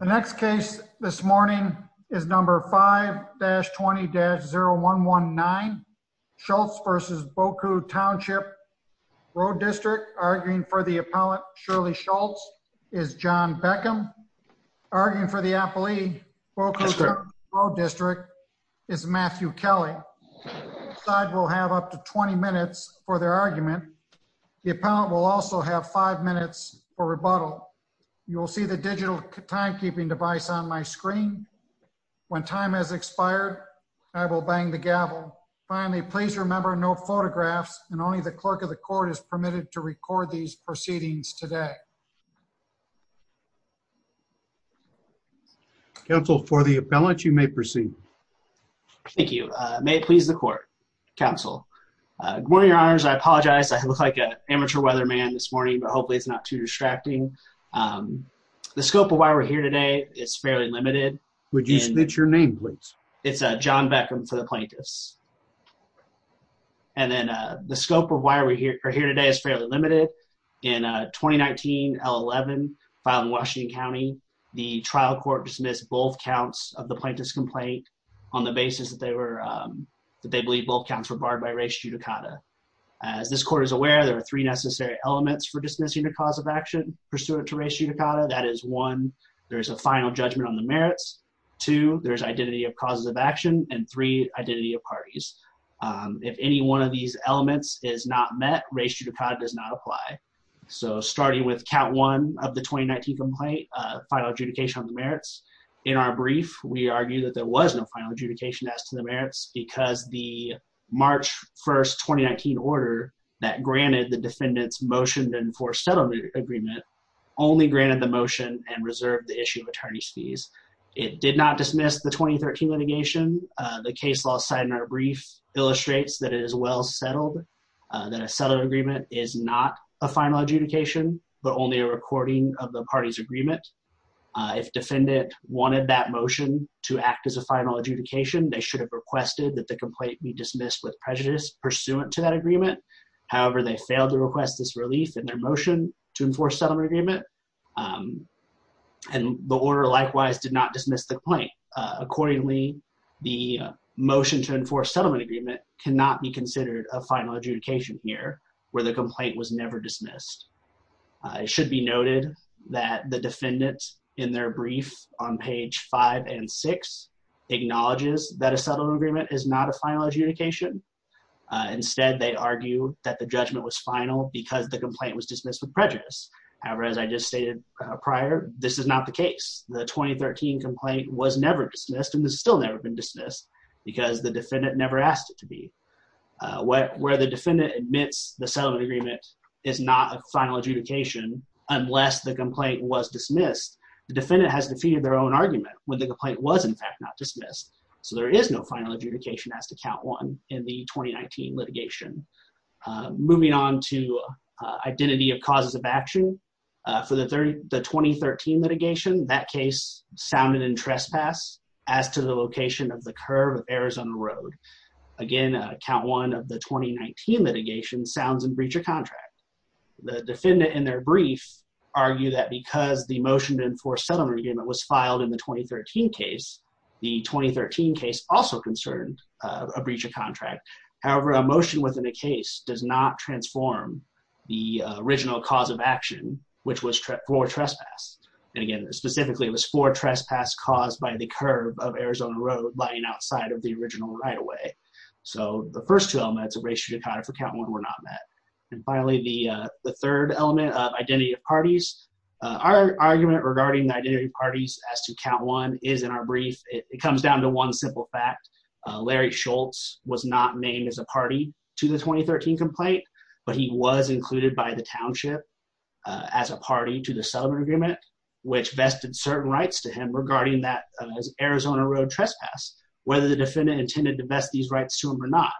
The next case this morning is number 5-20-0119, Schultz v. Beaucoup Township Road District. Arguing for the appellant, Shirley Schultz, is John Beckham. Arguing for the appellee, Beaucoup Township Road District, is Matthew Kelly. The side will have up to 20 minutes for their argument. The appellant will also have five minutes for rebuttal. You will see the digital timekeeping device on my screen. When time has expired, I will bang the gavel. Finally, please remember no photographs and only the clerk of the court is permitted to record these proceedings today. Council, for the appellant, you may proceed. Thank you, may it please the court. Council, good morning, your honors, I apologize. I look like an amateur weatherman this morning, but hopefully it's not too distracting. The scope of why we're here today is fairly limited. Would you state your name, please? It's John Beckham for the plaintiffs. And then the scope of why we're here today is fairly limited. In 2019-11, filed in Washington County, the trial court dismissed both counts of the plaintiff's complaint on the basis that they believe both counts were barred by race judicata. As this court is aware, there are three necessary elements for dismissing a cause of action pursuant to race judicata. That is one, there's a final judgment on the merits. Two, there's identity of causes of action. And three, identity of parties. If any one of these elements is not met, race judicata does not apply. So starting with count one of the 2019 complaint, final adjudication on the merits. In our brief, we argue that there was no final adjudication as to the merits because the March 1st, 2019 order that granted the defendants motion to enforce settlement agreement only granted the motion and reserved the issue of attorney's fees. It did not dismiss the 2013 litigation. The case law signed in our brief illustrates that it is well settled, that a settled agreement is not a final adjudication, but only a recording of the party's agreement. If defendant wanted that motion to act as a final adjudication, they should have requested that the complaint be dismissed with prejudice pursuant to that agreement. However, they failed to request this relief in their motion to enforce settlement agreement. And the order likewise did not dismiss the complaint. Accordingly, the motion to enforce settlement agreement cannot be considered a final adjudication here where the complaint was never dismissed. It should be noted that the defendants in their brief on page five and six acknowledges that a settlement agreement is not a final adjudication. Instead, they argue that the judgment was final because the complaint was dismissed with prejudice. However, as I just stated prior, this is not the case. The 2013 complaint was never dismissed and it's still never been dismissed because the defendant never asked it to be. Where the defendant admits the settlement agreement is not a final adjudication unless the complaint was dismissed, the defendant has defeated their own argument when the complaint was in fact not dismissed. So there is no final adjudication as to count one in the 2019 litigation. Moving on to identity of causes of action. For the 2013 litigation, that case sounded in trespass as to the location of the curve of Arizona Road. Again, count one of the 2019 litigation sounds in breach of contract. The defendant in their brief argue that because the motion to enforce settlement agreement was filed in the 2013 case, the 2013 case also concerned a breach of contract. However, a motion within a case does not transform the original cause of action, which was for trespass. And again, specifically it was for trespass caused by the curve of Arizona Road lying outside of the original right-of-way. So the first two elements of racial dichotomy for count one were not met. And finally, the third element of identity of parties. Our argument regarding the identity of parties as to count one is in our brief. It comes down to one simple fact. Larry Schultz was not named as a party to the 2013 complaint, but he was included by the township as a party to the settlement agreement, which vested certain rights to him regarding that Arizona Road trespass, whether the defendant intended to vest these rights to him or not.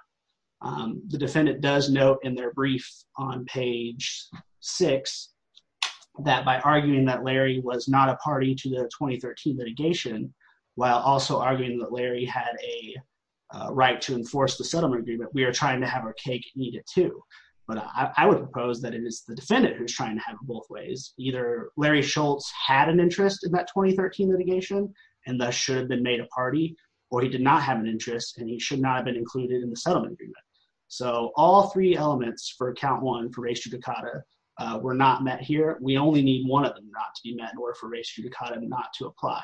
The defendant does note in their brief on page six that by arguing that Larry was not a party to the 2013 litigation, while also arguing that Larry had a right to enforce the settlement agreement, we are trying to have our cake and eat it too. But I would propose that it is the defendant who's trying to have both ways. Either Larry Schultz had an interest in that 2013 litigation and thus should have been made a party, or he did not have an interest and he should not have been included in the settlement agreement. So all three elements for count one for racial dichotomy were not met here. We only need one of them not to be met or for racial dichotomy not to apply.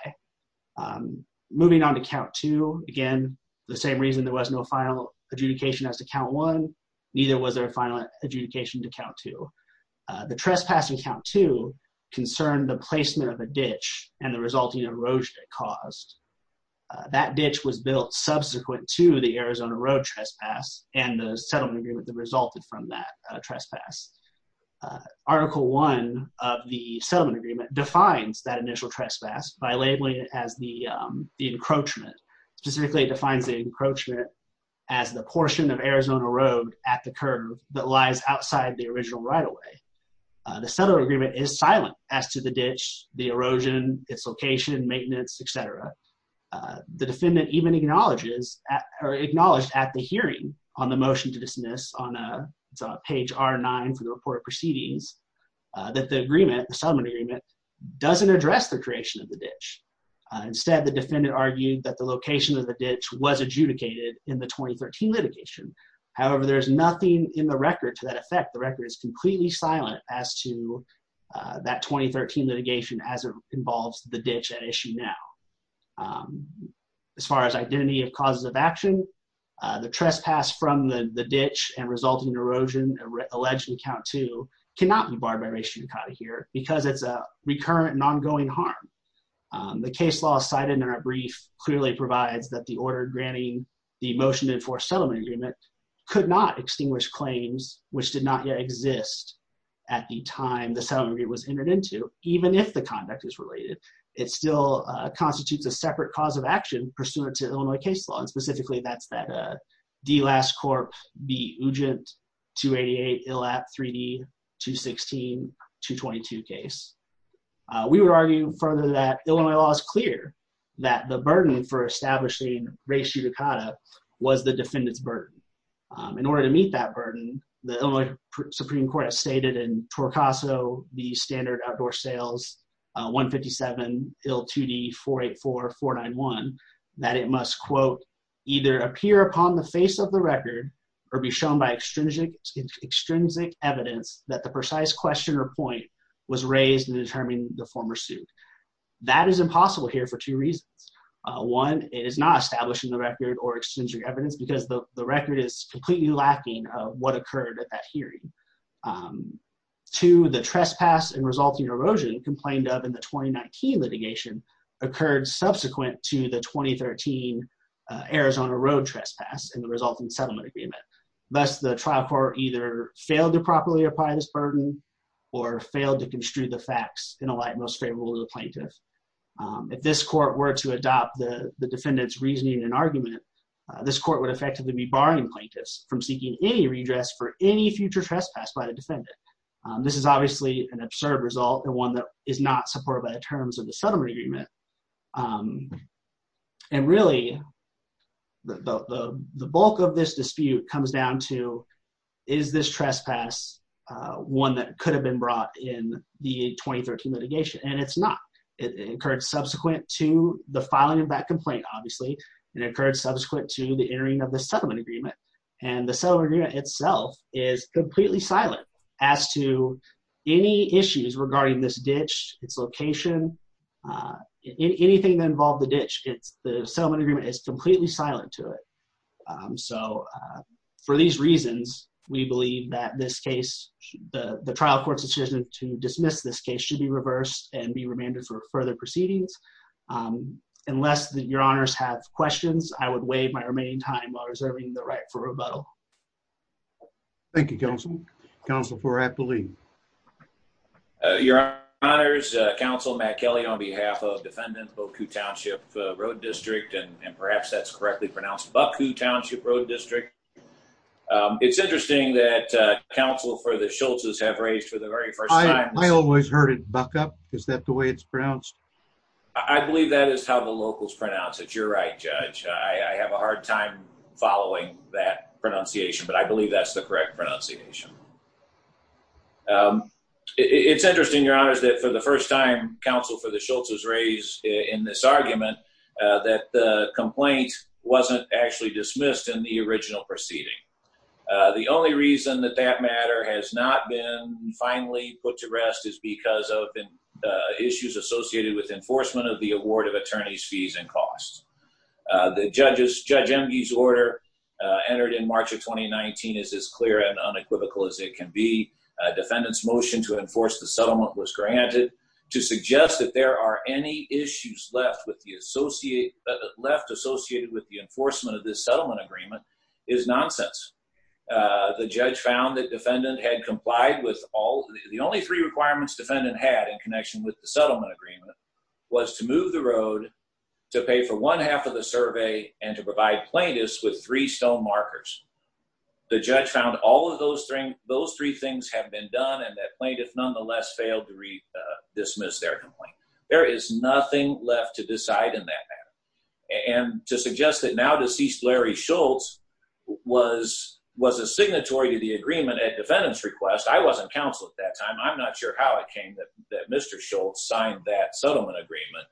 Moving on to count two, again, the same reason there was no final adjudication as to count one, neither was there a final adjudication to count two. The trespassing count two concerned the placement of a ditch and the resulting erosion it caused. That ditch was built subsequent to the Arizona Road trespass and the settlement agreement that resulted from that trespass. Article one of the settlement agreement defines that initial trespass by labeling it as the encroachment. Specifically defines the encroachment as the portion of Arizona Road at the curve that lies outside the original right away. The settlement agreement is silent as to the ditch, the erosion, its location, maintenance, et cetera. The defendant even acknowledges on the motion to dismiss on page R9 for the report of proceedings that the agreement, the settlement agreement, doesn't address the creation of the ditch. Instead, the defendant argued that the location of the ditch was adjudicated in the 2013 litigation. However, there's nothing in the record to that effect. The record is completely silent as to that 2013 litigation as it involves the ditch at issue now. As far as identity of causes of action, the trespass from the ditch and resulting erosion alleged in count two cannot be barred by racially codded here because it's a recurrent and ongoing harm. The case law cited in our brief clearly provides that the order granting the motion to enforce settlement agreement could not extinguish claims which did not yet exist at the time the settlement agreement was entered into, even if the conduct is related. It still constitutes a separate cause of action pursuant to Illinois case law. And specifically, that's that D. Last Corp. B. Ugent, 288, ILAP 3D, 216, 222 case. We would argue further that Illinois law is clear that the burden for establishing racial coda was the defendant's burden. In order to meet that burden, the Illinois Supreme Court has stated in Torcaso, the standard outdoor sales, 157, IL 2D 484, 491, that it must quote, either appear upon the face of the record or be shown by extrinsic evidence that the precise question or point was raised in determining the former suit. That is impossible here for two reasons. One, it is not establishing the record or extrinsic evidence because the record is completely lacking of what occurred at that hearing. Two, the trespass and resulting erosion complained of in the 2019 litigation occurred subsequent to the 2013 Arizona road trespass and the resulting settlement agreement. Thus, the trial court either failed to properly apply this burden or failed to construe the facts in a light most favorable to the plaintiff. If this court were to adopt the defendant's reasoning and argument, this court would effectively be barring plaintiffs from seeking any redress for any future trespass by the defendant. This is obviously an absurd result and one that is not supported by the terms of the settlement agreement. And really, the bulk of this dispute comes down to is this trespass one that could have been brought in the 2013 litigation? And it's not. It occurred subsequent to the filing of that complaint, obviously, and it occurred subsequent to the entering of the settlement agreement. And the settlement agreement itself is completely silent as to any issues regarding this ditch, its location, anything that involved the ditch, the settlement agreement is completely silent to it. So for these reasons, we believe that this case, the trial court's decision to dismiss this case should be reversed and be remanded for further proceedings. Unless your honors have questions, I would waive my remaining time while reserving the right for rebuttal. Thank you, counsel. Counsel, for I believe. Your honors, counsel Matt Kelly, on behalf of defendant Bocoup Township Road District, and perhaps that's correctly pronounced, Bocoup Township Road District. It's interesting that counsel for the Schultz's have raised for the very first time- I always heard it Buck-up. Is that the way it's pronounced? I believe that is how the locals pronounce it. You're right, Judge. I have a hard time following that pronunciation. But I believe that's the correct pronunciation. It's interesting, your honors, that for the first time, counsel for the Schultz's raised in this argument that the complaint wasn't actually dismissed in the original proceeding. The only reason that that matter has not been finally put to rest is because of issues associated with enforcement of the award of attorney's fees and costs. The judge's order entered in March of 2019 is as clear and unequivocal as it can be. Defendant's motion to enforce the settlement was granted. To suggest that there are any issues left associated with the enforcement of this settlement agreement is nonsense. The judge found that defendant had complied with all, the only three requirements defendant had in connection with the settlement agreement was to move the road, to pay for one half of the survey, and to provide plaintiffs with three stone markers. The judge found all of those three things had been done and that plaintiff nonetheless failed to dismiss their complaint. There is nothing left to decide in that matter. And to suggest that now deceased Larry Schultz was a signatory to the agreement at defendant's request, I wasn't counsel at that time, I'm not sure how it came that Mr. Schultz signed that settlement agreement,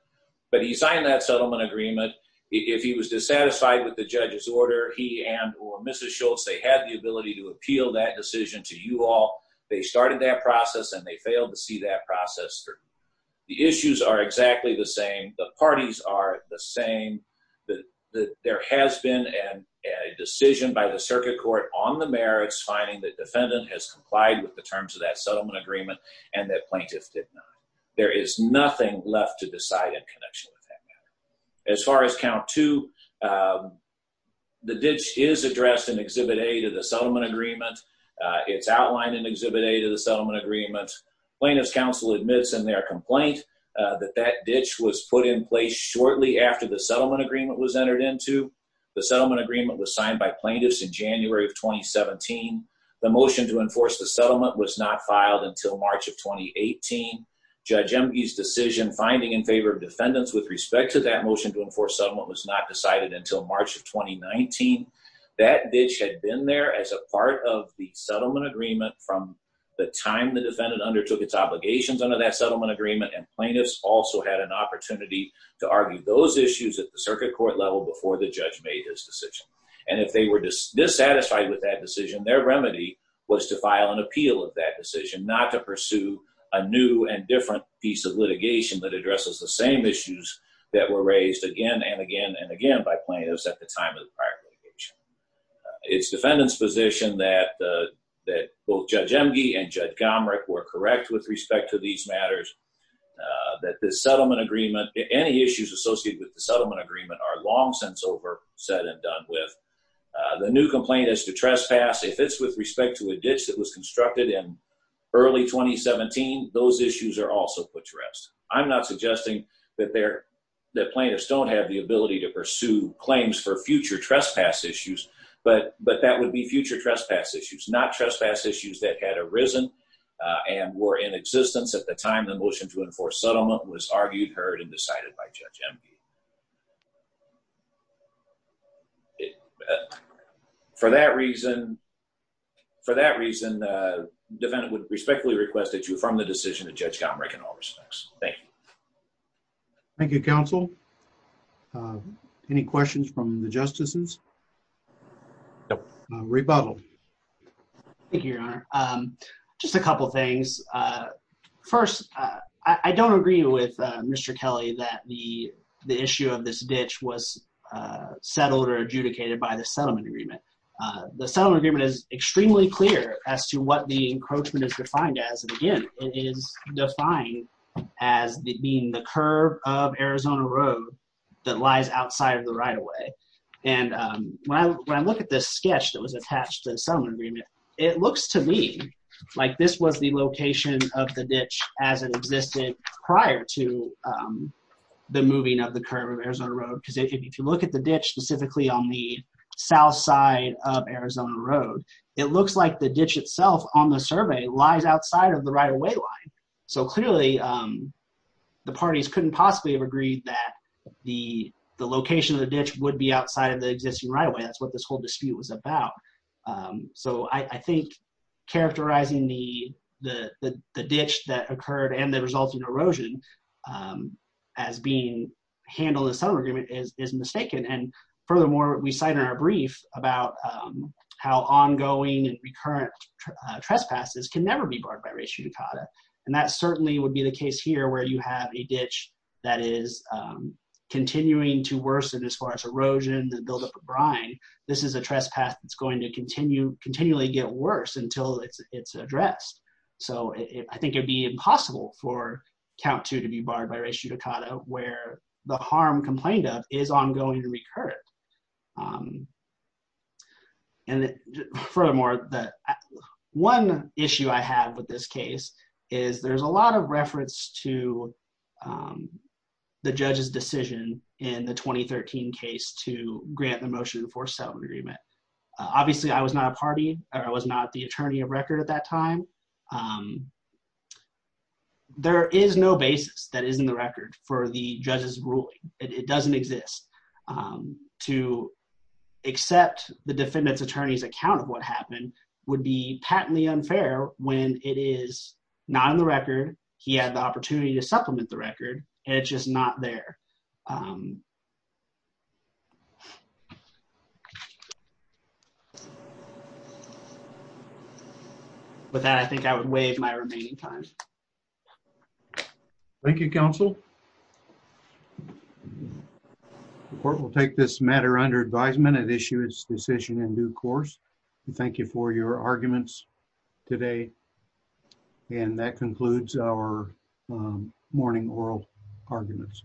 but he signed that settlement agreement. If he was dissatisfied with the judge's order, he and or Mrs. Schultz, they had the ability to appeal that decision to you all. They started that process and they failed to see that process through. The issues are exactly the same. The parties are the same. There has been a decision by the circuit court on the merits finding that defendant has complied with the terms of that settlement agreement and that plaintiff did not. There is nothing left to decide in connection with that matter. As far as count two, the ditch is addressed in exhibit A to the settlement agreement. It's outlined in exhibit A to the settlement agreement. Plaintiff's counsel admits in their complaint that that ditch was put in place shortly after the settlement agreement was entered into. in January of 2017. The motion to enforce the settlement was not filed until March of 2018. Judge Emge's decision finding in favor of defendants with respect to that motion to enforce settlement was not decided until March of 2019. That ditch had been there as a part of the settlement agreement from the time the defendant undertook its obligations under that settlement agreement and plaintiffs also had an opportunity to argue those issues at the circuit court level before the judge made his decision. And if they were dissatisfied with that decision, their remedy was to file an appeal of that decision, not to pursue a new and different piece of litigation that addresses the same issues that were raised again and again and again by plaintiffs at the time of the prior litigation. It's defendant's position that both Judge Emge and Judge Gomrick were correct with respect to these matters, that this settlement agreement, any issues associated with the settlement agreement are long since over, said and done with. The new complaint is to trespass if it's with respect to a ditch that was constructed in early 2017, those issues are also put to rest. I'm not suggesting that plaintiffs don't have the ability to pursue claims for future trespass issues, but that would be future trespass issues, not trespass issues that had arisen and were in existence at the time the motion to enforce settlement was argued, heard, and decided by Judge Emge. For that reason, defendant would respectfully request that you affirm the decision of Judge Gomrick in all respects, thank you. Thank you, counsel. Any questions from the justices? No. Rebuttal. Thank you, your honor. Just a couple of things. First, I don't agree with Mr. Kelly that the issue of this ditch was settled or adjudicated by the settlement agreement. The settlement agreement is extremely clear as to what the encroachment is defined as, and again, it is defined as being the curve of Arizona Road that lies outside of the right-of-way. And when I look at this sketch that was attached to the settlement agreement, it looks to me like this was the location of the ditch as it existed prior to the moving of the curve of Arizona Road. Because if you look at the ditch specifically on the south side of Arizona Road, it looks like the ditch itself on the survey lies outside of the right-of-way line. So clearly, the parties couldn't possibly have agreed that the location of the ditch would be outside of the existing right-of-way. That's what this whole dispute was about. So I think characterizing the ditch that occurred and the resulting erosion as being handled as settlement agreement is mistaken. And furthermore, we cite in our brief about how ongoing and recurrent trespasses can never be barred by ratio decata. And that certainly would be the case here where you have a ditch that is continuing to worsen as far as erosion, the buildup of brine. This is a trespass that's going to continually get worse until it's addressed. So I think it'd be impossible for count two to be barred by ratio decata where the harm complained of is ongoing and recurrent. And furthermore, one issue I have with this case is there's a lot of reference to the judge's decision in the 2013 case to grant the motion for settlement agreement. Obviously, I was not a party, or I was not the attorney of record at that time. There is no basis that is in the record for the judge's ruling. It doesn't exist. To accept the defendant's attorney's account of what happened would be patently unfair when it is not in the record, he had the opportunity to supplement the record, and it's just not there. With that, I think I would waive my remaining time. Thank you, counsel. The court will take this matter under advisement and issue its decision in due course. And thank you for your arguments today. And that concludes our morning oral arguments.